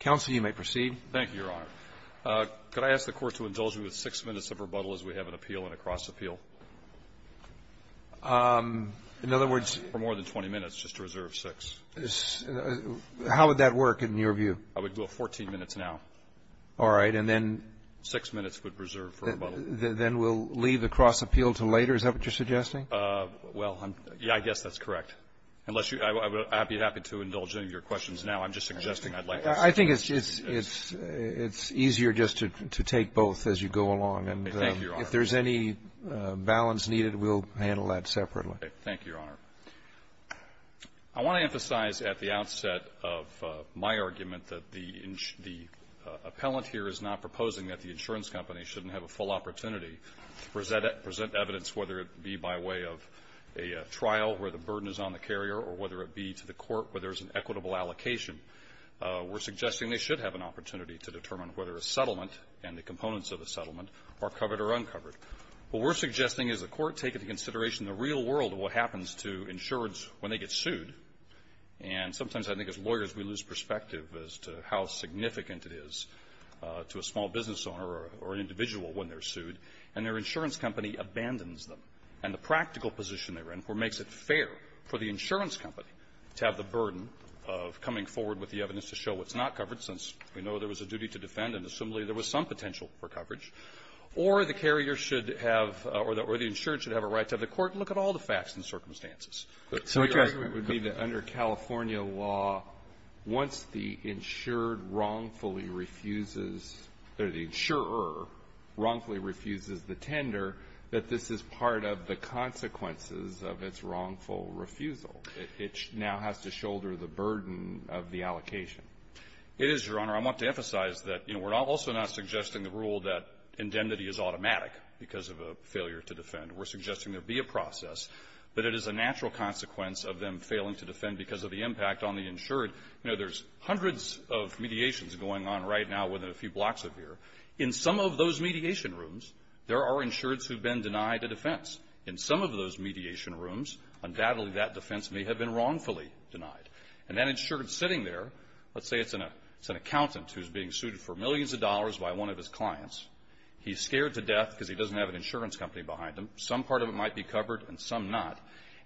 Council, you may proceed. Thank you, Your Honor. Could I ask the Court to indulge me with six minutes of rebuttal as we have an appeal and a cross-appeal? In other words? For more than 20 minutes, just to reserve six. How would that work, in your view? I would do it 14 minutes now. All right. And then? Six minutes would reserve for rebuttal. Then we'll leave the cross-appeal until later? Is that what you're suggesting? Well, I guess that's correct. Unless you – I'd be happy to indulge any of your questions now. I'm just suggesting I'd like to see if you could do that. I think it's easier just to take both as you go along. Okay. Thank you, Your Honor. And if there's any balance needed, we'll handle that separately. Okay. Thank you, Your Honor. I want to emphasize at the outset of my argument that the appellant here is not proposing that the insurance company shouldn't have a full opportunity to present evidence, whether it be by way of a trial where the burden is on the carrier or whether it be to the court where there's an equitable allocation. We're suggesting they should have an opportunity to determine whether a settlement and the components of a settlement are covered or uncovered. What we're suggesting is the Court take into consideration the real world of what happens to insurance when they get sued. And sometimes I think as lawyers we lose perspective as to how significant it is to a small business owner or an individual when they're sued. And their insurance company abandons them, and the practical position they're in, where it makes it fair for the insurance company to have the burden of coming forward with the evidence to show what's not covered, since we know there was a duty to defend and assumedly there was some potential for coverage, or the carrier should have or the insured should have a right to have the court look at all the facts and circumstances. So your argument would be that under California law, once the insured wrongfully refuses, or the insurer wrongfully refuses the tender, that this is part of the consequences of its wrongful refusal. It now has to shoulder the burden of the allocation. It is, Your Honor. I want to emphasize that, you know, we're also not suggesting the rule that indemnity is automatic because of a failure to defend. We're suggesting there be a process, but it is a natural consequence of them failing to defend because of the impact on the insured. You know, there's hundreds of mediations going on right now within a few blocks of here. In some of those mediation rooms, there are insureds who've been denied a defense. In some of those mediation rooms, undoubtedly that defense may have been wrongfully denied. And that insured sitting there, let's say it's an accountant who's being sued for millions of dollars by one of his clients. He's scared to death because he doesn't have an insurance company behind him. Some part of it might be covered and some not.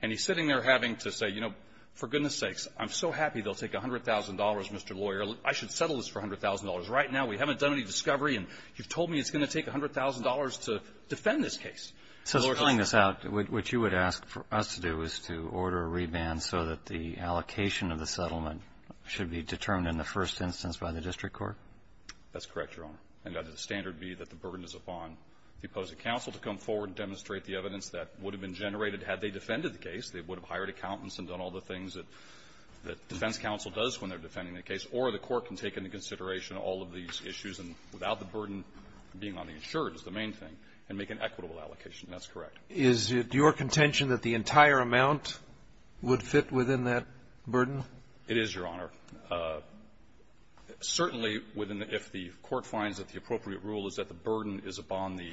And he's sitting there having to say, you know, for goodness sakes, I'm so happy they'll take $100,000, Mr. Lawyer. I should settle this for $100,000. Right now, we haven't done any discovery, and you've told me it's going to take $100,000 to defend this case. So, Your Honor, what you would ask for us to do is to order a reband so that the allocation of the settlement should be determined in the first instance by the district court? That's correct, Your Honor. And that is the standard be that the burden is upon the opposing counsel to come forward and demonstrate the evidence that would have been generated had they defended the case. They would have hired accountants and done all the things that the defense counsel does when they're defending the case. Or the court can take into consideration all of these issues, and without the burden being on the insured is the main thing, and make an equitable allocation. That's correct. Is it your contention that the entire amount would fit within that burden? It is, Your Honor. Certainly, if the court finds that the appropriate rule is that the burden is upon the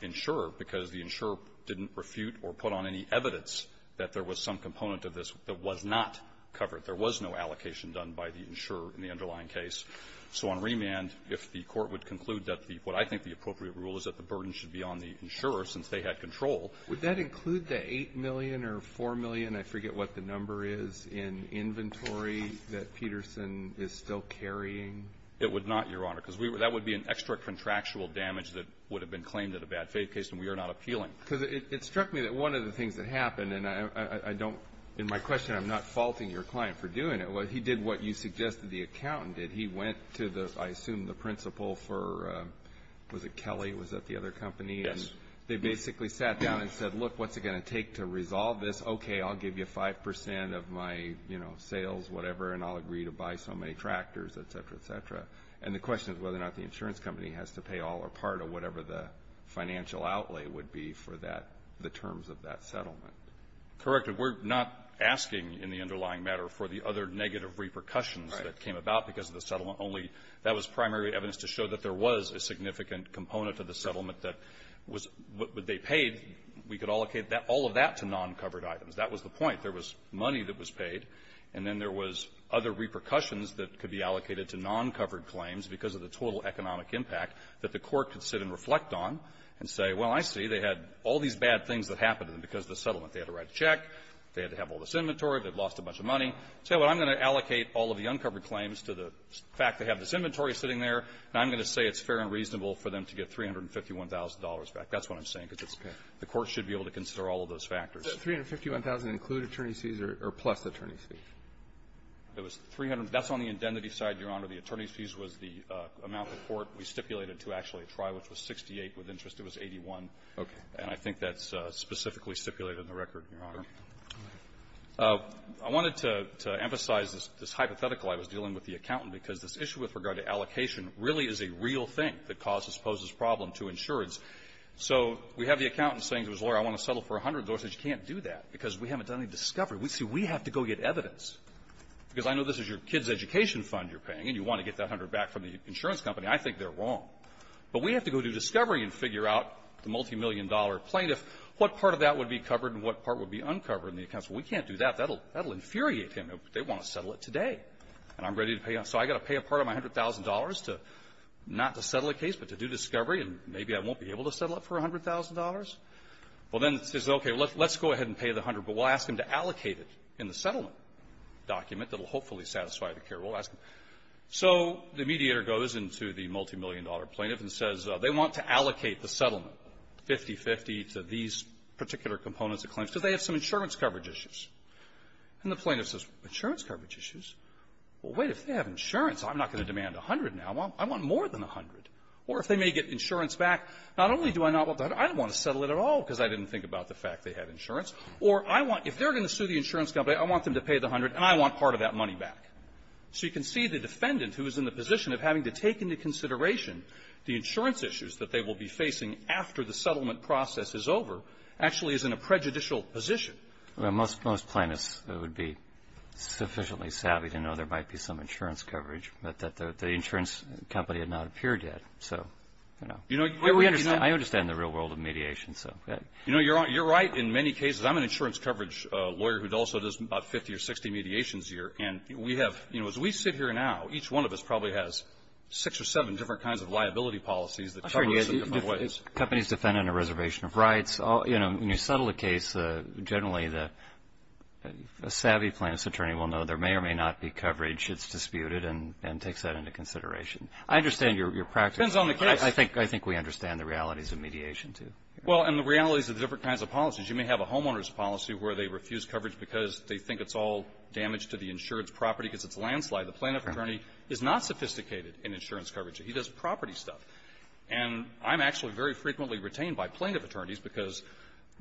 insurer, because the insurer didn't refute or put on any evidence that there was some component of this that was not covered, there was no allocation done by the insurer in the underlying case. So on remand, if the court would conclude that the what I think the appropriate rule is that the burden should be on the insurer since they had control. Would that include the $8 million or $4 million, I forget what the number is, in inventory that Peterson is still carrying? It would not, Your Honor, because that would be an extra contractual damage that would have been claimed at a bad faith case, and we are not appealing. Because it struck me that one of the things that happened, and I don't, in my question, I'm not faulting your client for doing it, but he did what you suggested the accountant did. He went to the, I assume, the principal for, was it Kelly? Was that the other company? Yes. They basically sat down and said, look, what's it going to take to resolve this? Okay, I'll give you 5% of my, you know, sales, whatever, and I'll agree to buy so many tractors, et cetera, et cetera. And the question is whether or not the insurance company has to pay all or part of whatever the financial outlay would be for that, the terms of that settlement. Correct. And we're not asking in the underlying matter for the other negative repercussions that came about because of the settlement, only that was primary evidence to show that there was a significant component of the settlement that was, what they paid, we could allocate that, all of that to non-covered items. That was the point. There was money that was paid, and then there was other repercussions that could be allocated to non-covered claims because of the total economic impact that the Court could sit and reflect on and say, well, I see. They had all these bad things that happened to them because of the settlement. They had to write a check. They had to have all this inventory. They'd lost a bunch of money. Say, well, I'm going to allocate all of the uncovered claims to the fact they have this inventory sitting there, and I'm going to say it's fair and reasonable for them to get $351,000 back. That's what I'm saying, because it's the Court should be able to consider all of those factors. So $351,000 include attorney's fees or plus attorney's fees? It was 300. That's on the indemnity side, Your Honor. The attorney's fees was the amount the Court, we stipulated, to actually try, which was 68 with interest. It was 81. Okay. And I think that's specifically stipulated in the record, Your Honor. I wanted to emphasize this hypothetical I was dealing with the accountant, because this issue with regard to allocation really is a real thing that causes this problem to insurance. So we have the accountant saying to his lawyer, I want to settle for 100 dollars. He says, you can't do that, because we haven't done any discovery. See, we have to go get evidence, because I know this is your kid's education fund you're paying, and you want to get that 100 back from the insurance company. I think they're wrong. But we have to go do discovery and figure out the multimillion-dollar plaintiff, what part of that would be covered and what part would be uncovered in the accounts. Well, we can't do that. That will infuriate him. They want to settle it today, and I'm ready to pay. So I've got to pay a part of my $100,000 to not to settle a case, but to do discovery, and maybe I won't be able to settle it for $100,000? Well, then he says, okay, let's go ahead and pay the 100, but we'll ask him to allocate it in the settlement document that will hopefully satisfy the care rule. We'll ask him. So the mediator goes into the multimillion-dollar plaintiff and says, they want to allocate the settlement, 50-50, to these particular components of claims, because they have some insurance coverage issues. And the plaintiff says, insurance coverage issues? Well, wait. If they have insurance, I'm not going to demand 100 now. I want more than 100. Or if they may get insurance back, not only do I not want to do that, I don't want to settle it at all, because I didn't think about the fact they have insurance. Or I want – if they're going to sue the insurance company, I want them to pay the 100, and I want part of that money back. So you can see the defendant, who is in the position of having to take into consideration the insurance issues that they will be facing after the settlement process is over, actually is in a prejudicial position. Well, most plaintiffs would be sufficiently savvy to know there might be some insurance coverage, but that the insurance company had not appeared yet. So, you know, I understand the real world of mediation. You know, you're right in many cases. I'm an insurance coverage lawyer who also does about 50 or 60 mediations a year. And we have – you know, as we sit here now, each one of us probably has six or seven different kinds of liability policies that cover us in different ways. Companies defending a reservation of rights, you know, when you settle a case, generally the savvy plaintiff's attorney will know there may or may not be coverage that's disputed and takes that into consideration. I understand your practice. Depends on the case. I think we understand the realities of mediation, too. Well, and the realities of the different kinds of policies. You may have a homeowner's policy where they refuse coverage because they think it's all damage to the insurance property because it's a landslide. The plaintiff attorney is not sophisticated in insurance coverage. He does property stuff. And I'm actually very frequently retained by plaintiff attorneys because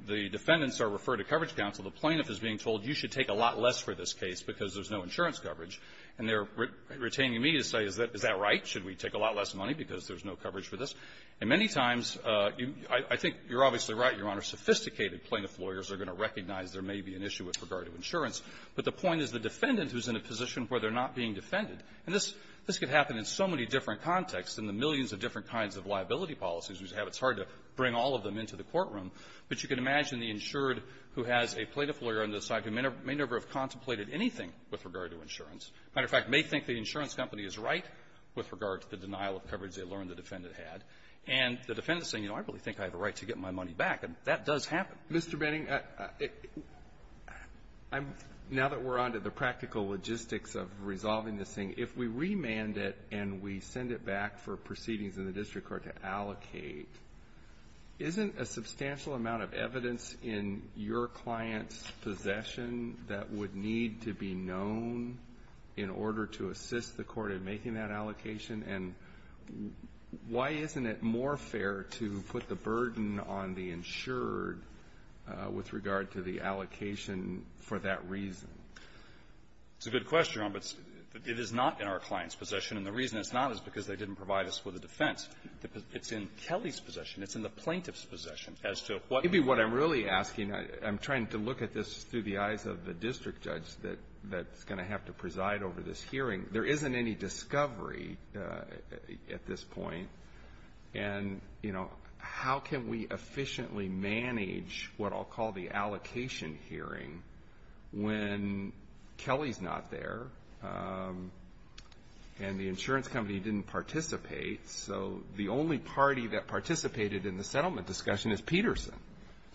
the defendants are referred to coverage counsel. The plaintiff is being told, you should take a lot less for this case because there's no insurance coverage. And they're retaining me to say, is that right? Should we take a lot less money because there's no coverage for this? And many times, I think you're obviously right, Your Honor, sophisticated plaintiff lawyers are going to recognize there may be an issue with regard to insurance. But the point is the defendant who's in a position where they're not being defended and this could happen in so many different contexts and the millions of different kinds of liability policies we have, it's hard to bring all of them into the courtroom. But you can imagine the insured who has a plaintiff lawyer on the side who may never have contemplated anything with regard to insurance. As a matter of fact, may think the insurance company is right with regard to the denial of coverage they learned the defendant had. And the defendant is saying, you know, I really think I have a right to get my money back. And that does happen. Alitoson Mr. Benning, now that we're on to the practical logistics of resolving this thing, if we remand it and we send it back for proceedings in the district court to allocate, isn't a substantial amount of evidence in your client's possession that would need to be known in order to assist the court in making that allocation? And why isn't it more fair to put the burden on the insured with regard to the allocation for that reason? Benning It's a good question, Your Honor, but it is not in our client's possession. And the reason it's not is because they didn't provide us with a defense. It's in Kelly's possession. It's in the plaintiff's possession. As to what you're asking, I'm trying to look at this through the eyes of the district judge that's going to have to preside over this hearing. There isn't any discovery at this point. And, you know, how can we efficiently manage what I'll call the allocation hearing when Kelly's not there and the insurance company didn't participate? So the only party that participated in the settlement discussion is Peterson.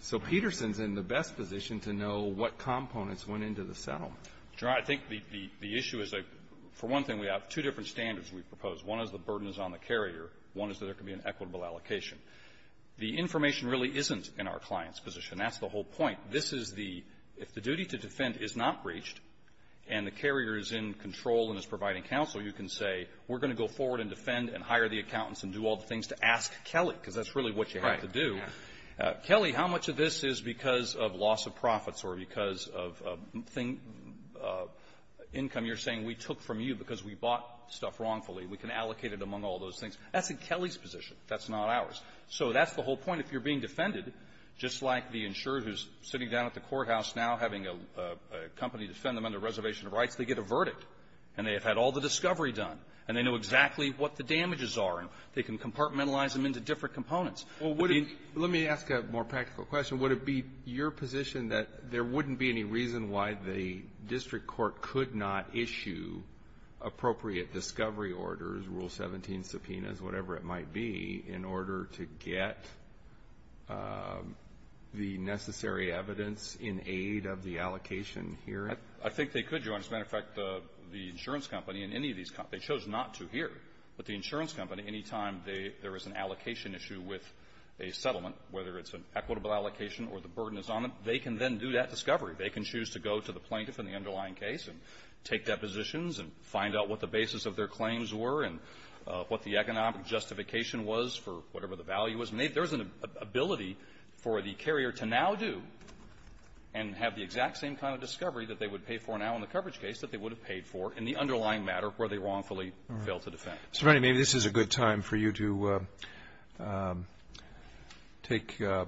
So Peterson's in the best position to know what components went into the settlement. Roberts. I think the issue is, for one thing, we have two different standards we propose. One is the burden is on the carrier. One is that there can be an equitable allocation. The information really isn't in our client's position. That's the whole point. This is the – if the duty to defend is not breached and the carrier is in control and is providing counsel, you can say, we're going to go forward and defend and hire the accountants and do all the things to ask Kelly, because that's really what you have to do. Kelly, how much of this is because of loss of profits or because of thing – income you're saying we took from you because we bought stuff wrongfully. We can allocate it among all those things. That's in Kelly's position. That's not ours. So that's the whole point. If you're being defended, just like the insurer who's sitting down at the courthouse now having a company defend them under reservation of rights, they get a verdict. And they have had all the discovery done. And they know exactly what the damages are. And they can compartmentalize them into different components. Well, would it – let me ask a more practical question. Would it be your position that there wouldn't be any reason why the district court could not issue appropriate discovery orders, Rule 17 subpoenas, whatever it might be, in order to get the necessary evidence in aid of the allocation here? I think they could, Your Honor. As a matter of fact, the insurance company and any of these – they chose not to But any time there is an allocation issue with a settlement, whether it's an equitable allocation or the burden is on it, they can then do that discovery. They can choose to go to the plaintiff in the underlying case and take depositions and find out what the basis of their claims were and what the economic justification was for whatever the value was. And there's an ability for the carrier to now do and have the exact same kind of discovery that they would pay for now in the coverage case that they would have paid for in the underlying matter where they wrongfully failed to defend. So, Franny, maybe this is a good time for you to take a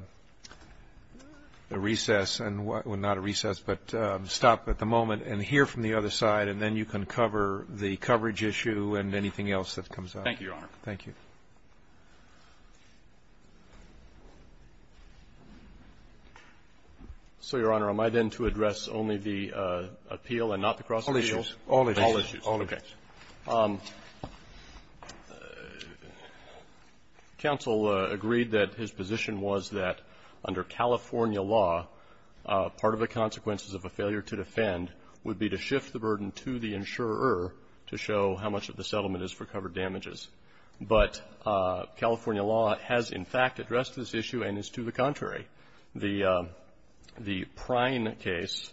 recess and – well, not a recess, but stop at the moment and hear from the other side, and then you can cover the coverage issue and anything else that comes up. Thank you, Your Honor. Thank you. So, Your Honor, am I then to address only the appeal and not the cross-appeals? All issues. All issues. All issues. Okay. Thank you, Your Honor. Counsel agreed that his position was that under California law, part of the consequences of a failure to defend would be to shift the burden to the insurer to show how much of the settlement is for covered damages. But California law has, in fact, addressed this issue and is to the contrary. The Prime case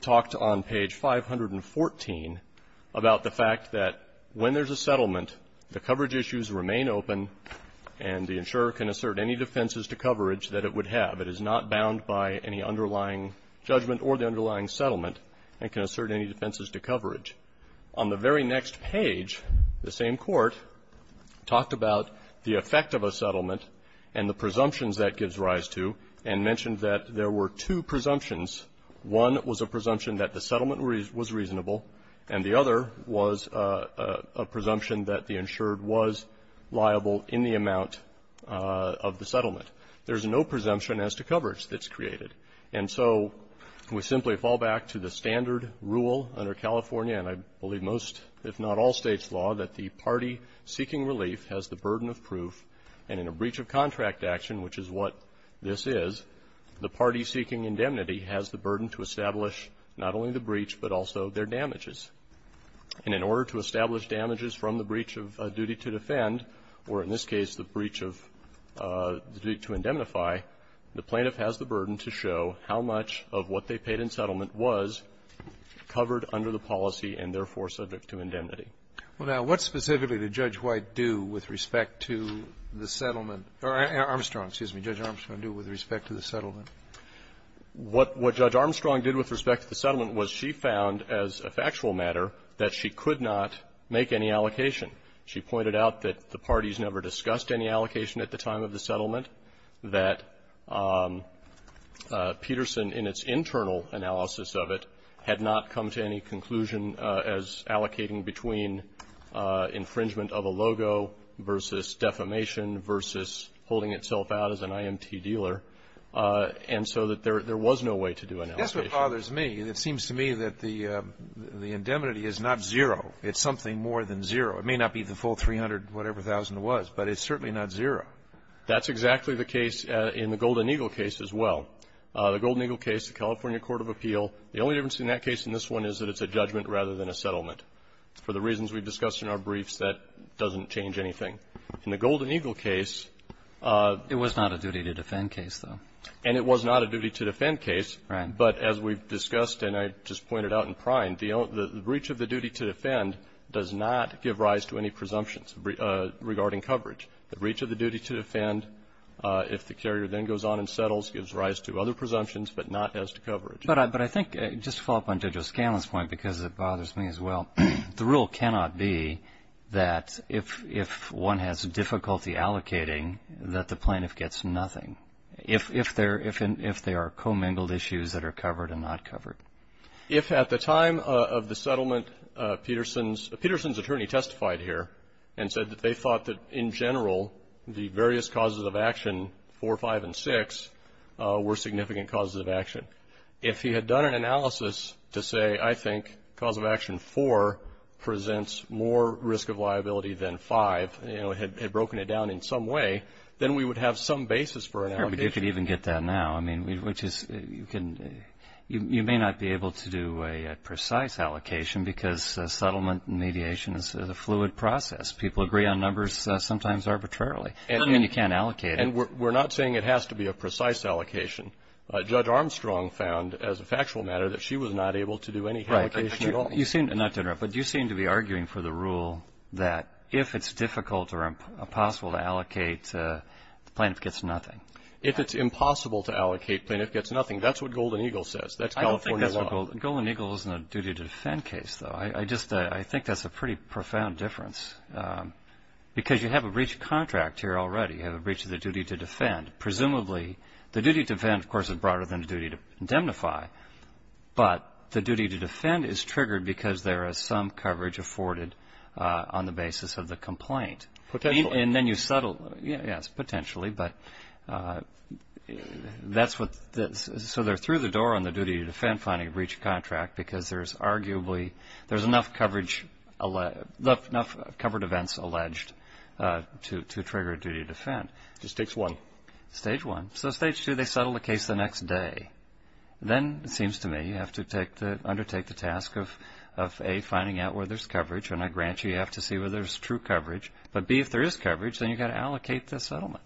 talked on page 514 about the fact that when there's a settlement, the coverage issues remain open and the insurer can assert any defenses to coverage that it would have. It is not bound by any underlying judgment or the underlying settlement and can assert any defenses to coverage. On the very next page, the same court talked about the effect of a settlement and the presumptions that gives rise to and mentioned that there were two presumptions. One was a presumption that the settlement was reasonable, and the other was a presumption that the insured was liable in the amount of the settlement. There's no presumption as to coverage that's created. And so we simply fall back to the standard rule under California, and I believe most, if not all States' law, that the party seeking relief has the burden of proof, and in a breach of contract action, which is what this is, the party seeking indemnity has the burden to establish not only the breach, but also their damages. And in order to establish damages from the breach of duty to defend, or in this case, the breach of duty to indemnify, the plaintiff has the burden to show how much of what they paid in settlement was covered under the policy and therefore subject to indemnity. Well, now, what specifically did Judge White do with respect to the settlement or Armstrong, excuse me, Judge Armstrong do with respect to the settlement? What Judge Armstrong did with respect to the settlement was she found as a factual matter that she could not make any allocation. She pointed out that the parties never discussed any allocation at the time of the settlement, that Peterson in its internal analysis of it had not come to any conclusion as allocating between infringement of a logo versus defamation versus holding itself out as an IMT dealer, and so that there was no way to do an allocation. That's what bothers me. It seems to me that the indemnity is not zero. It's something more than zero. It may not be the full 300 whatever thousand it was, but it's certainly not zero. That's exactly the case in the Golden Eagle case as well. The Golden Eagle case, the California court of appeal, the only difference in that case and this one is that it's a judgment rather than a settlement. For the reasons we've discussed in our briefs, that doesn't change anything. In the Golden Eagle case of the Golden Eagle case of the Golden Eagle case, it was not a duty-to-defend case, though. And it was not a duty-to-defend case, but as we've discussed, and I just pointed out in prime, the breach of the duty-to-defend does not give rise to any presumptions regarding coverage. The breach of the duty-to-defend, if the carrier then goes on and settles, gives rise to other presumptions, but not as to coverage. But I think, just to follow up on Judge O'Scanlan's point, because it bothers me as well, the rule cannot be that if one has difficulty allocating, that the plaintiff gets nothing, if there are commingled issues that are covered and not covered. If at the time of the settlement, Peterson's attorney testified here and said that they thought that, in general, the various causes of action, 4, 5, and 6, were significant causes of action, if he had done an analysis to say, I think cause of action 4 presents more risk of liability than 5, you know, had broken it down in some way, then we would have some basis for an allocation. Right, but you could even get that now, I mean, which is, you can, you may not be able to do a precise allocation because settlement mediation is a fluid process. People agree on numbers, sometimes arbitrarily, I mean, you can't allocate. And we're not saying it has to be a precise allocation. Judge Armstrong found, as a factual matter, that she was not able to do any allocation at all. Right. You seem, not to interrupt, but you seem to be arguing for the rule that if it's difficult or impossible to allocate, plaintiff gets nothing. If it's impossible to allocate, plaintiff gets nothing. That's what Golden Eagle says. That's California law. I don't think that's what Golden Eagle, Golden Eagle isn't a duty to defend case, though. I just, I think that's a pretty profound difference. Because you have a breach of contract here already, you have a breach of the duty to defend. Presumably, the duty to defend, of course, is broader than the duty to indemnify. But the duty to defend is triggered because there is some coverage afforded on the basis of the complaint. Potentially. And then you settle. Yes, potentially. But that's what, so they're through the door on the duty to defend finding a breach of contract because there's arguably, there's enough coverage, enough covered events alleged to trigger a duty to defend. Stage one. Stage one. So stage two, they settle the case the next day. Then it seems to me you have to undertake the task of, A, finding out where there's true coverage. But, B, if there is coverage, then you've got to allocate the settlement.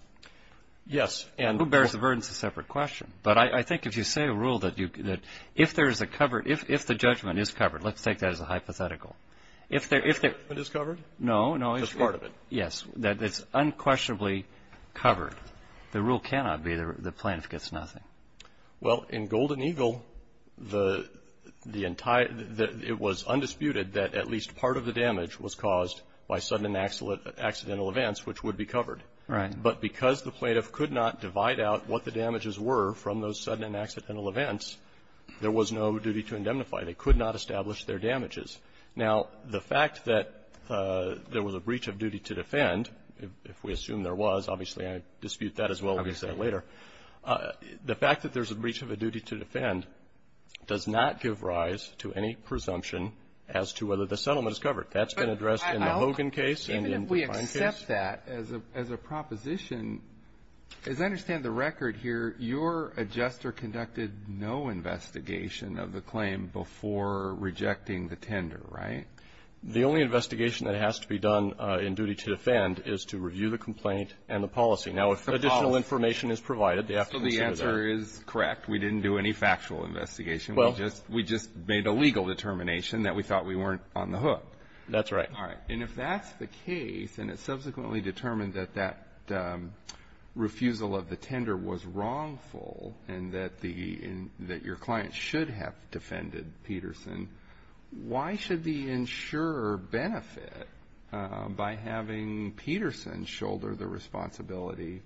Yes. Who bears the burden is a separate question. But I think if you say a rule that if there's a covered, if the judgment is covered, let's take that as a hypothetical. If the judgment is covered, that's part of it. Yes. That it's unquestionably covered. The rule cannot be the plaintiff gets nothing. Well, in Golden Eagle, it was undisputed that at least part of the damage was caused by sudden and accidental events, which would be covered. Right. But because the plaintiff could not divide out what the damages were from those sudden and accidental events, there was no duty to indemnify. They could not establish their damages. Now, the fact that there was a breach of duty to defend, if we assume there was. Obviously, I dispute that as well. We'll get to that later. The fact that there's a breach of a duty to defend does not give rise to any presumption as to whether the settlement is covered. That's been addressed in the Hogan case and in the Define case. Even if we accept that as a proposition, as I understand the record here, your adjuster conducted no investigation of the claim before rejecting the tender, right? The only investigation that has to be done in duty to defend is to review the complaint and the policy. Now, if additional information is provided, they have to consider that. So the answer is correct. We didn't do any factual investigation. Well, we just made a legal determination that we thought we weren't on the hook. That's right. All right. And if that's the case, and it subsequently determined that that refusal of the tender was wrongful and that the – that your client should have defended Peterson, why should the insurer benefit by having Peterson shoulder the responsibility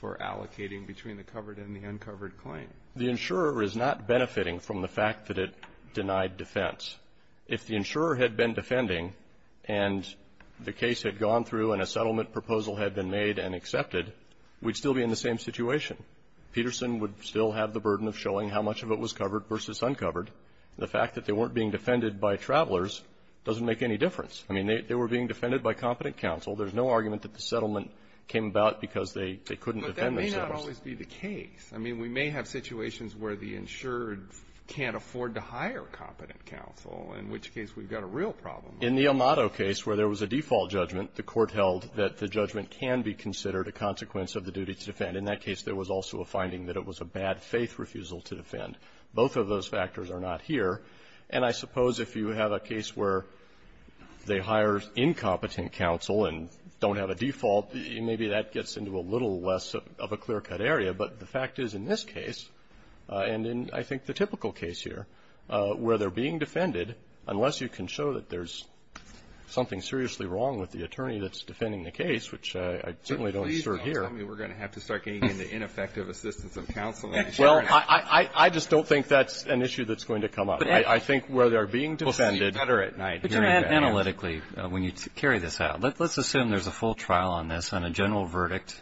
for allocating between the covered and the uncovered claim? The insurer is not benefiting from the fact that it denied defense. If the insurer had been defending and the case had gone through and a settlement proposal had been made and accepted, we'd still be in the same situation. Peterson would still have the burden of showing how much of it was covered versus uncovered. The fact that they weren't being defended by travelers doesn't make any difference. I mean, they were being defended by competent counsel. There's no argument that the settlement came about because they couldn't defend themselves. But that may not always be the case. I mean, we may have situations where the insured can't afford to hire competent counsel, in which case we've got a real problem. In the Amato case, where there was a default judgment, the Court held that the judgment can be considered a consequence of the duty to defend. In that case, there was also a finding that it was a bad-faith refusal to defend. Both of those factors are not here. And I suppose if you have a case where they hire incompetent counsel and don't have a default, maybe that gets into a little less of a clear-cut area. But the fact is, in this case, and in, I think, the typical case here, where they're being defended, unless you can show that there's something seriously wrong with the attorney that's defending the case, which I certainly don't assure here. Please don't tell me we're going to have to start getting into ineffective assistance of counsel. Well, I just don't think that's an issue that's going to come up. I think where they're being defended. We'll see better at night. But analytically, when you carry this out, let's assume there's a full trial on this and a general verdict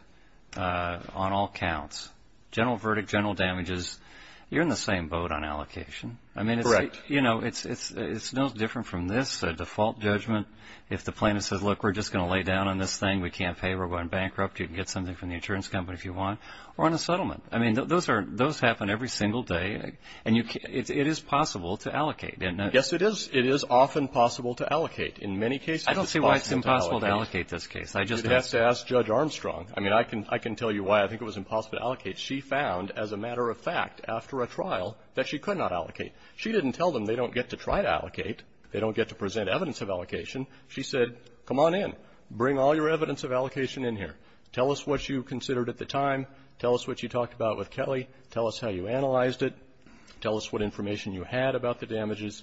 on all counts. General verdict, general damages. You're in the same boat on allocation. Correct. I mean, it's no different from this, a default judgment. If the plaintiff says, look, we're just going to lay down on this thing. We can't pay. We're going bankrupt. You can get something from the insurance company if you want. Or on a settlement. I mean, those happen every single day. And it is possible to allocate, isn't it? Yes, it is. It is often possible to allocate. In many cases, it's impossible to allocate. I don't see why it's impossible to allocate this case. You'd have to ask Judge Armstrong. I mean, I can tell you why I think it was impossible to allocate. She found, as a matter of fact, after a trial, that she could not allocate. She didn't tell them they don't get to try to allocate. They don't get to present evidence of allocation. She said, come on in. Bring all your evidence of allocation in here. Tell us what you considered at the time. Tell us what you talked about with Kelly. Tell us how you analyzed it. Tell us what information you had about the damages.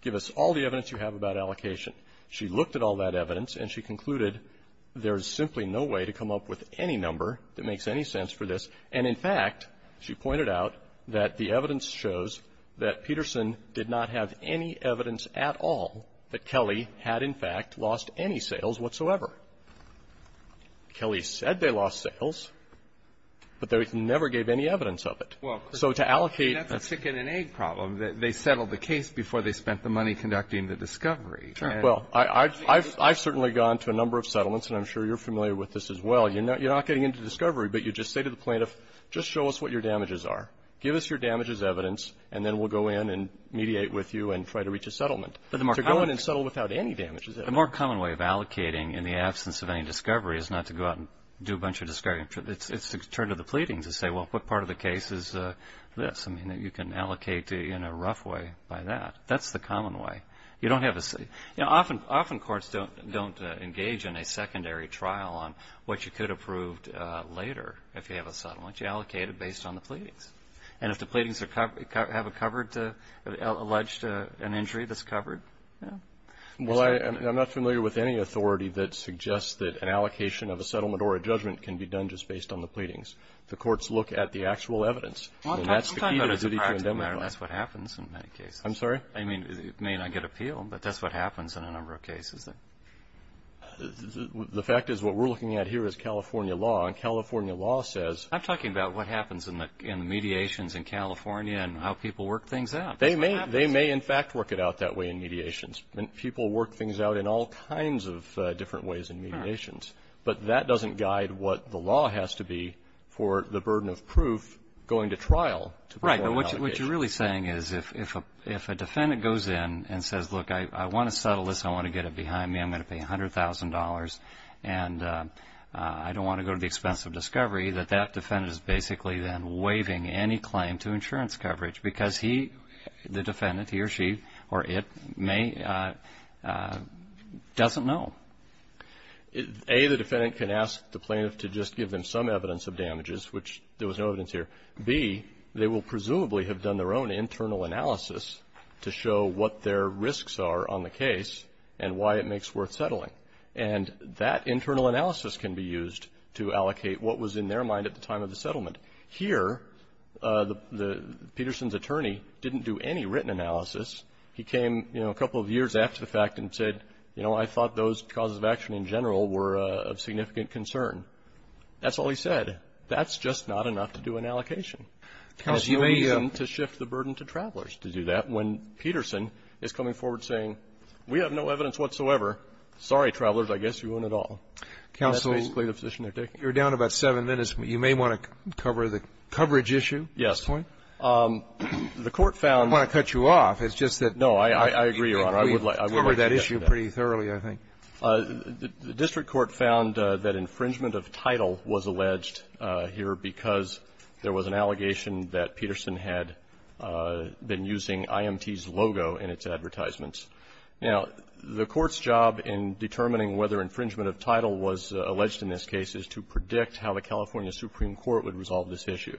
Give us all the evidence you have about allocation. She looked at all that evidence, and she concluded there's simply no way to come up with any number that makes any sense for this. And, in fact, she pointed out that the evidence shows that Peterson did not have any evidence at all that Kelly had, in fact, lost any sales whatsoever. Kelly said they lost sales, but they never gave any evidence of it. So to allocate the ---- Well, that's a chicken and egg problem. They settled the case before they spent the money conducting the discovery. Well, I've certainly gone to a number of settlements, and I'm sure you're familiar with this as well. You're not getting into discovery, but you just say to the plaintiff, just show us what your damages are. Give us your damages evidence, and then we'll go in and mediate with you and try to reach a settlement. To go in and settle without any damage is evidence. The more common way of allocating in the absence of any discovery is not to go out and do a bunch of discovery. It's to turn to the pleadings and say, well, what part of the case is this? I mean, you can allocate in a rough way by that. That's the common way. You don't have a ---- Often courts don't engage in a secondary trial on what you could have proved later if you have a settlement. You allocate it based on the pleadings. And if the pleadings have alleged an injury that's covered, yeah. Well, I'm not familiar with any authority that suggests that an allocation of a settlement or a judgment can be done just based on the pleadings. The courts look at the actual evidence. Well, I'm talking about it as a practical matter. That's what happens in many cases. I'm sorry? I mean, it may not get appealed, but that's what happens in a number of cases. The fact is what we're looking at here is California law. And California law says ---- I'm talking about what happens in the mediations in California and how people work things out. That's what happens. They may in fact work it out that way in mediations. People work things out in all kinds of different ways in mediations. But that doesn't guide what the law has to be for the burden of proof going to trial. Right. What you're really saying is if a defendant goes in and says, look, I want to settle this, I want to get it behind me, I'm going to pay $100,000, and I don't want to go to the expense of discovery, that that defendant is basically then waiving any claim to insurance coverage because he, the defendant, he or she or it may ---- doesn't know. A, the defendant can ask the plaintiff to just give them some evidence of damages, which there was no evidence here. B, they will presumably have done their own internal analysis to show what their risks are on the case and why it makes worth settling. And that internal analysis can be used to allocate what was in their mind at the time of the settlement. Here, Peterson's attorney didn't do any written analysis. He came, you know, a couple of years after the fact and said, you know, I thought those causes of action in general were of significant concern. That's all he said. That's just not enough to do an allocation. There's no reason to shift the burden to Travelers to do that when Peterson is coming forward saying, we have no evidence whatsoever. Sorry, Travelers, I guess you won't at all. And that's basically the position they're taking. You're down about seven minutes. You may want to cover the coverage issue at this point. Yes. The Court found ---- I don't want to cut you off. It's just that ---- No. I agree, Your Honor. I would like to get to that. We covered that issue pretty thoroughly, I think. The district court found that infringement of title was alleged here because there was an allegation that Peterson had been using IMT's logo in its advertisements. Now, the Court's job in determining whether infringement of title was alleged in this case is to predict how the California Supreme Court would resolve this issue.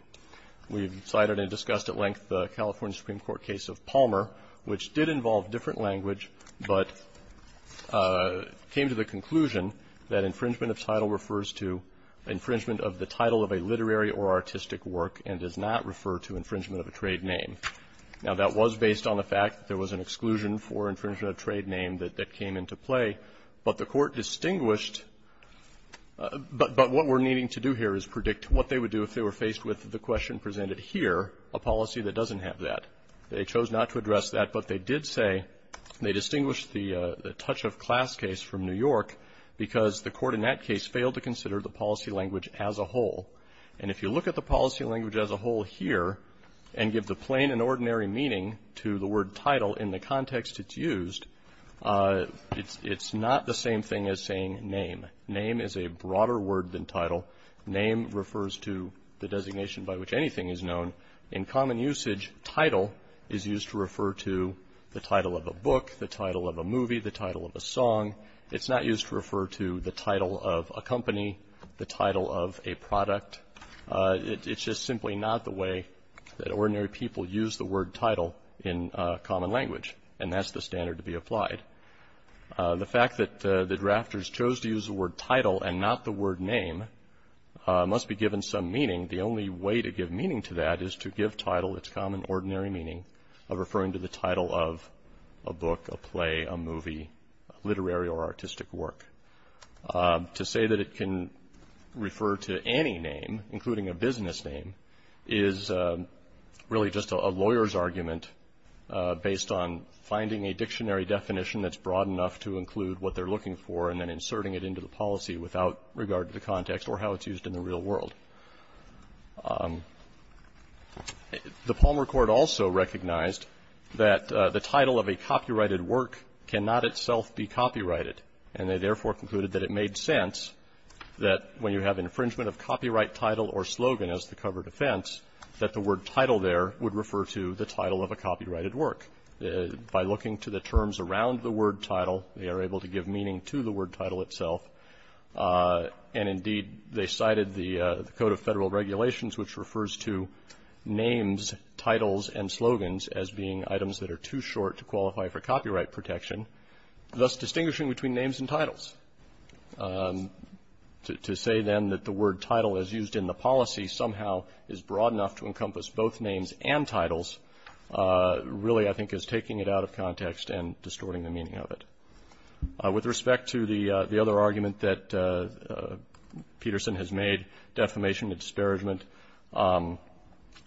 We've cited and discussed at length the California Supreme Court case of Palmer, which did involve different language but came to the conclusion that infringement of title refers to infringement of the title of a literary or artistic work and does not refer to infringement of a trade name. Now, that was based on the fact that there was an exclusion for infringement of a trade name that came into play. But the Court distinguished ---- but what we're needing to do here is predict what they would do if they were faced with the question presented here, a policy that doesn't have that. They chose not to address that, but they did say they distinguished the touch-of-class case from New York because the Court in that case failed to consider the policy language as a whole. And if you look at the policy language as a whole here and give the plain and ordinary meaning to the word title in the context it's used, it's not the same thing as saying name. Name is a broader word than title. Name refers to the designation by which anything is known. In common usage, title is used to refer to the title of a book, the title of a movie, the title of a song. It's not used to refer to the title of a company, the title of a product. It's just simply not the way that ordinary people use the word title in common language, and that's the standard to be applied. The fact that the drafters chose to use the word title and not the word name must be given some meaning. The only way to give meaning to that is to give title its common ordinary meaning of referring to the title of a book, a play, a movie, literary or artistic work. To say that it can refer to any name, including a business name, is really just a lawyer's argument based on finding a dictionary definition that's broad enough to include what they're looking for and then inserting it into the policy without regard to the context or how it's used. The Palmer Court also recognized that the title of a copyrighted work cannot itself be copyrighted, and they therefore concluded that it made sense that when you have infringement of copyright title or slogan as the covered offense, that the word title there would refer to the title of a copyrighted work. By looking to the terms around the word title, they are able to give meaning to the word title itself. And indeed, they cited the Code of Federal Regulations, which refers to names, titles and slogans as being items that are too short to qualify for copyright protection, thus distinguishing between names and titles. To say then that the word title is used in the policy somehow is broad enough to encompass both names and titles really, I think, is taking it out of context and distorting the meaning of it. With respect to the other argument that Peterson has made, defamation, disparagement,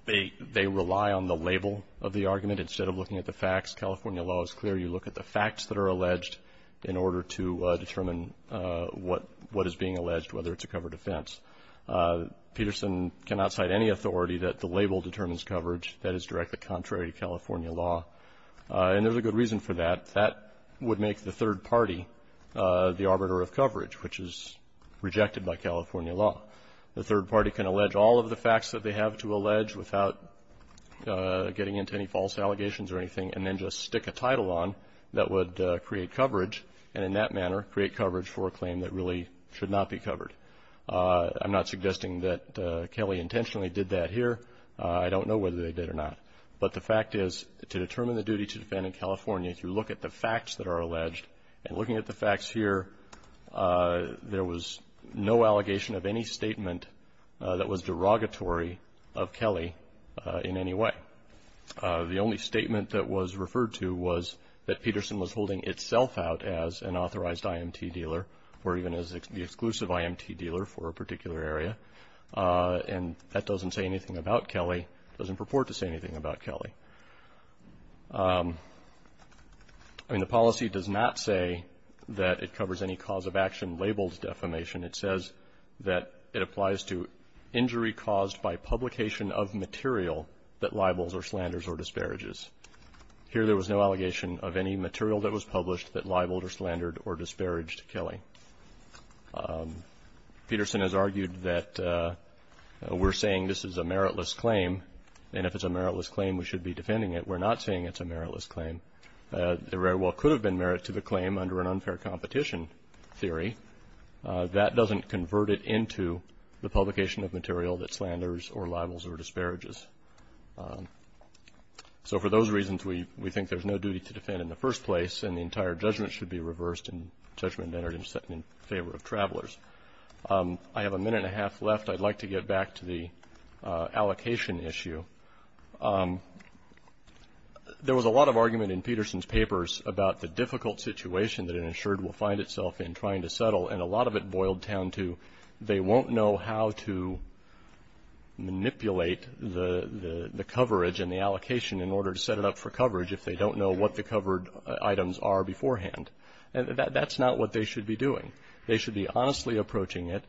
they rely on the label of the argument instead of looking at the facts. California law is clear. You look at the facts that are alleged in order to determine what is being alleged, whether it's a covered offense. Peterson cannot cite any authority that the label determines coverage that is directly contrary to California law. And there's a good reason for that. That would make the third party the arbiter of coverage, which is rejected by California law. The third party can allege all of the facts that they have to allege without getting into any false allegations or anything, and then just stick a title on that would create coverage, and in that manner create coverage for a claim that really should not be covered. I'm not suggesting that Kelly intentionally did that here. I don't know whether they did or not. But the fact is, to determine the duty to defend in California, if you look at the facts that are alleged, and looking at the facts here, there was no allegation of any statement that was derogatory of Kelly in any way. The only statement that was referred to was that Peterson was holding itself out as an authorized IMT dealer or even as the exclusive IMT dealer for a particular area. And that doesn't say anything about Kelly. It doesn't purport to say anything about Kelly. I mean, the policy does not say that it covers any cause of action labeled defamation. It says that it applies to injury caused by publication of material that libels or slanders or disparages. Here there was no allegation of any material that was published that libeled or slandered or disparaged Kelly. Peterson has argued that we're saying this is a meritless claim, and if it's a meritless claim we should be defending it. We're not saying it's a meritless claim. There very well could have been merit to the claim under an unfair competition theory. That doesn't convert it into the publication of material that slanders or libels or disparages. So for those reasons, we think there's no duty to defend in the first place, and the entire judgment should be reversed and judgment entered in favor of travelers. I have a minute and a half left. I'd like to get back to the allocation issue. There was a lot of argument in Peterson's papers about the difficult situation that an insured will find itself in trying to settle, and a lot of it boiled down to they won't know how to manipulate the coverage and the allocation in order to set it up for coverage if they don't know what the covered items are beforehand. That's not what they should be doing. They should be honestly approaching it.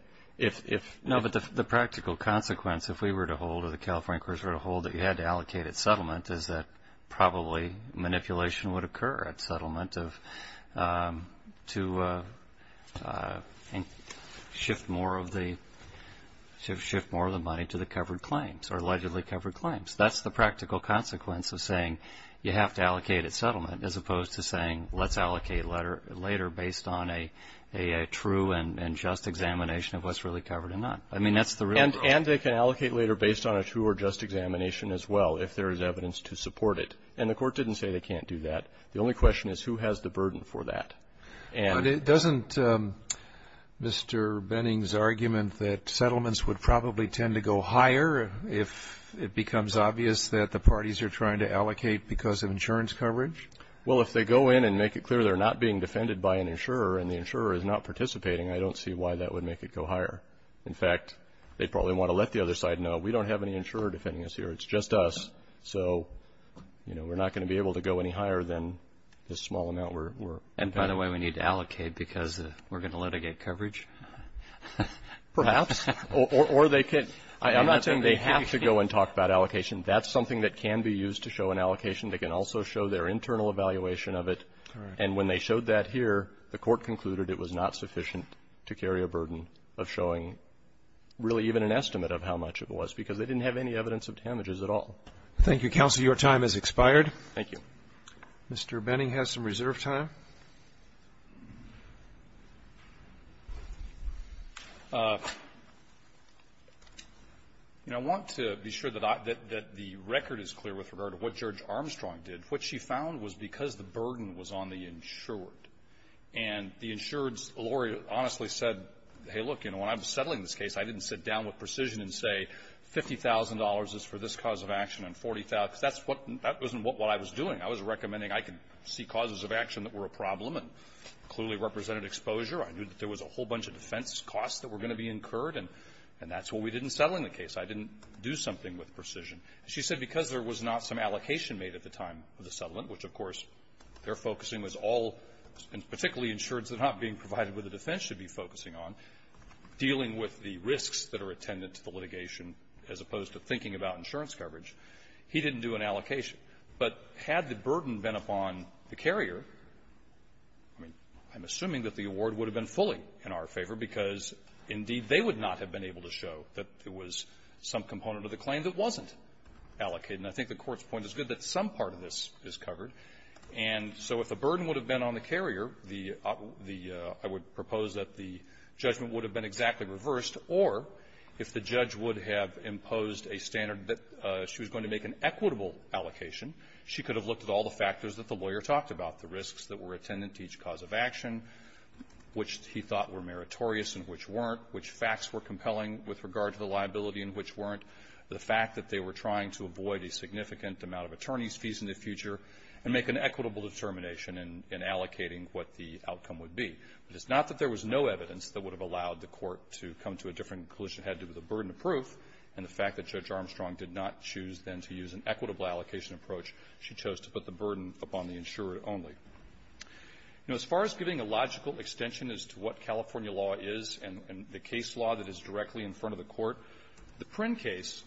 No, but the practical consequence if we were to hold or the California Courts were to hold that you had to allocate at settlement is that probably manipulation would occur at settlement to shift more of the money to the covered claims or allegedly covered claims. That's the practical consequence of saying you have to allocate at settlement as opposed to saying let's allocate later based on a true and just examination of what's really covered or not. I mean, that's the real problem. And they can allocate later based on a true or just examination as well if there is evidence to support it. And the Court didn't say they can't do that. The only question is who has the burden for that. But doesn't Mr. Benning's argument that settlements would probably tend to go higher if it becomes obvious that the parties are trying to allocate because of insurance coverage? Well, if they go in and make it clear they're not being defended by an insurer and the insurer is not participating, I don't see why that would make it go higher. In fact, they probably want to let the other side know we don't have any insurer defending us here. It's just us. So, you know, we're not going to be able to go any higher than this small amount. And by the way, we need to allocate because we're going to litigate coverage? Perhaps. Or they could. I'm not saying they have to go and talk about allocation. That's something that can be used to show an allocation. They can also show their internal evaluation of it. And when they showed that here, the Court concluded it was not sufficient to carry a burden of showing really even an estimate of how much it was because they didn't have any evidence of damages at all. Thank you, counsel. Your time has expired. Thank you. Mr. Benning has some reserve time. You know, I want to be sure that the record is clear with regard to what Judge Armstrong did. What she found was because the burden was on the insured and the insured's lawyer honestly said, hey, look, you know, when I was settling this case, I didn't sit down with Precision and say $50,000 is for this cause of action and $40,000 because that's what that wasn't what I was doing. I was recommending I could see causes of action that were a problem and clearly represented exposure. I knew that there was a whole bunch of defense costs that were going to be incurred, and that's what we did in settling the case. I didn't do something with Precision. She said because there was not some allocation made at the time of the settlement, which, of course, their focusing was all particularly insureds that are not being attended to the litigation as opposed to thinking about insurance coverage, he didn't do an allocation. But had the burden been upon the carrier, I mean, I'm assuming that the award would have been fully in our favor because, indeed, they would not have been able to show that there was some component of the claim that wasn't allocated. And I think the Court's point is good that some part of this is covered. And so if the burden would have been on the carrier, the the I would propose that the judgment would have been exactly reversed, or if the judge would have imposed a standard that she was going to make an equitable allocation, she could have looked at all the factors that the lawyer talked about, the risks that were attended to each cause of action, which he thought were meritorious and which weren't, which facts were compelling with regard to the liability and which weren't, the fact that they were trying to avoid a significant amount of attorney's fees in the future and make an equitable determination in allocating what the outcome would be. But it's not that there was no evidence that would have allowed the Court to come to a different conclusion. It had to do with the burden of proof and the fact that Judge Armstrong did not choose, then, to use an equitable allocation approach. She chose to put the burden upon the insurer only. You know, as far as giving a logical extension as to what California law is and the case law that is directly in front of the Court, the Prynn case,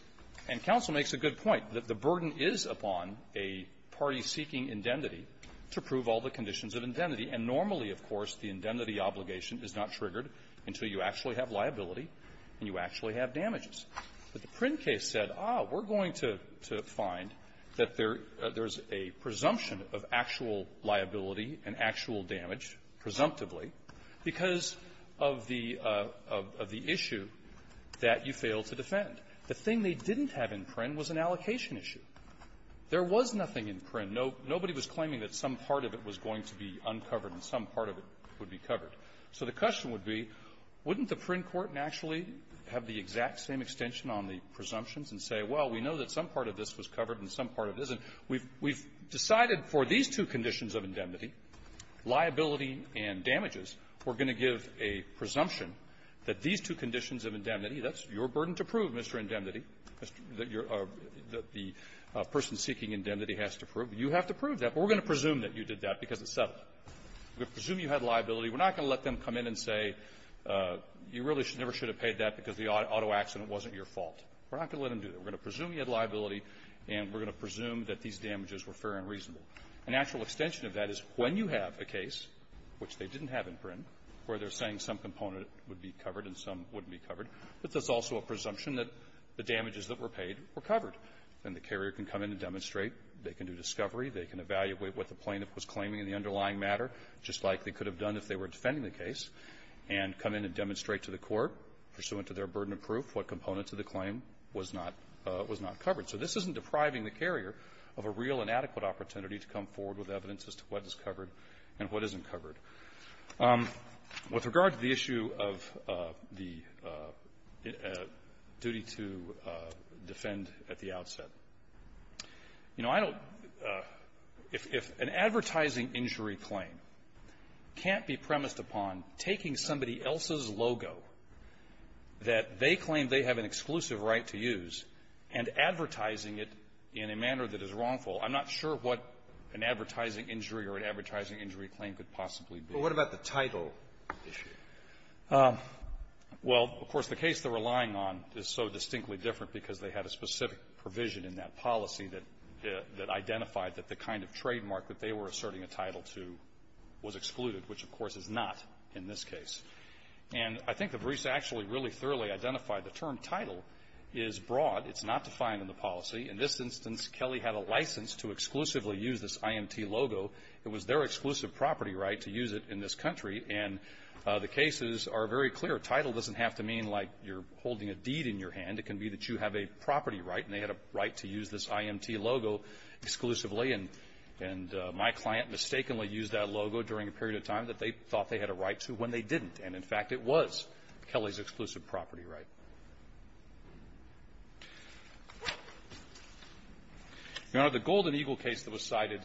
and counsel makes a good point, that the burden is upon a party seeking indemnity to prove all the conditions of indemnity. And normally, of course, the indemnity obligation is not triggered until you actually have liability and you actually have damages. But the Prynn case said, ah, we're going to find that there's a presumption of actual liability and actual damage, presumptively, because of the issue that you failed to defend. The thing they didn't have in Prynn was an allocation issue. There was nothing in Prynn. Nobody was claiming that some part of it was going to be uncovered and some part of it would be covered. So the question would be, wouldn't the Prynn court naturally have the exact same extension on the presumptions and say, well, we know that some part of this was covered and some part of it isn't? We've decided for these two conditions of indemnity, liability and damages, we're going to give a presumption that these two conditions of indemnity, that's your burden to prove, Mr. Indemnity, that you're the person seeking indemnity has to prove. You have to prove that, but we're going to presume that you did that because it's settled. We're going to presume you had liability. We're not going to let them come in and say, you really never should have paid that because the auto accident wasn't your fault. We're not going to let them do that. We're going to presume you had liability, and we're going to presume that these damages were fair and reasonable. An actual extension of that is when you have a case, which they didn't have in Prynn, where they're saying some component would be covered and some wouldn't be covered, but that's also a presumption that the damages that were paid were covered. Then the carrier can come in and demonstrate. They can do discovery. They can evaluate what the plaintiff was claiming in the underlying matter, just like they could have done if they were defending the case, and come in and demonstrate to the court, pursuant to their burden of proof, what components of the claim was not covered. So this isn't depriving the carrier of a real and adequate opportunity to come forward with evidence as to what is covered and what isn't covered. With regard to the issue of the duty to defend at the outset, you know, I don't – if an advertising injury claim can't be premised upon taking somebody else's logo that they claim they have an exclusive right to use and advertising it in a manner that is wrongful, I'm not sure what an advertising injury or an advertising injury claim could possibly be. But what about the title issue? Well, of course, the case they're relying on is so distinctly different because they had a specific provision in that policy that – that identified that the kind of trademark that they were asserting a title to was excluded, which, of course, is not in this case. And I think the briefs actually really thoroughly identified the term title is broad. It's not defined in the policy. In this instance, Kelly had a license to exclusively use this IMT logo. It was their exclusive property right to use it in this country. And the cases are very clear. Title doesn't have to mean like you're holding a deed in your hand. It can be that you have a property right and they had a right to use this IMT logo exclusively. And my client mistakenly used that logo during a period of time that they thought they had a right to when they didn't. And, in fact, it was Kelly's exclusive property right. Your Honor, the Golden Eagle case that was cited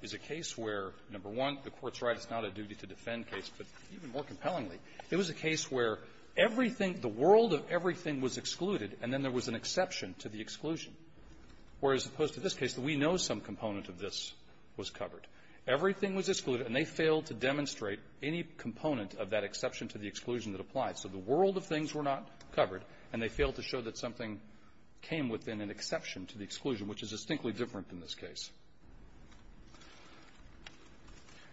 is a case where, number one, the Court's right, it's not a duty-to-defend case, but even more compellingly, it was a case where everything – the world of everything was excluded, and then there was an exception to the exclusion, where, as opposed to this case, we know some component of this was covered. Everything was excluded, and they failed to demonstrate any component of that exception to the exclusion that applied. So the world of things were not covered, and they failed to show that something came within an exception to the exclusion, which is distinctly different than this case.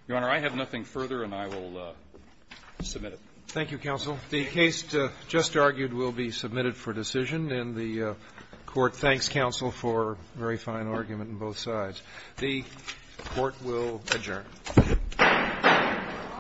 Your Honor, I have nothing further, and I will submit it. Thank you, counsel. The case just argued will be submitted for decision, and the Court thanks counsel for a very fine argument on both sides. The Court will adjourn. Thank you.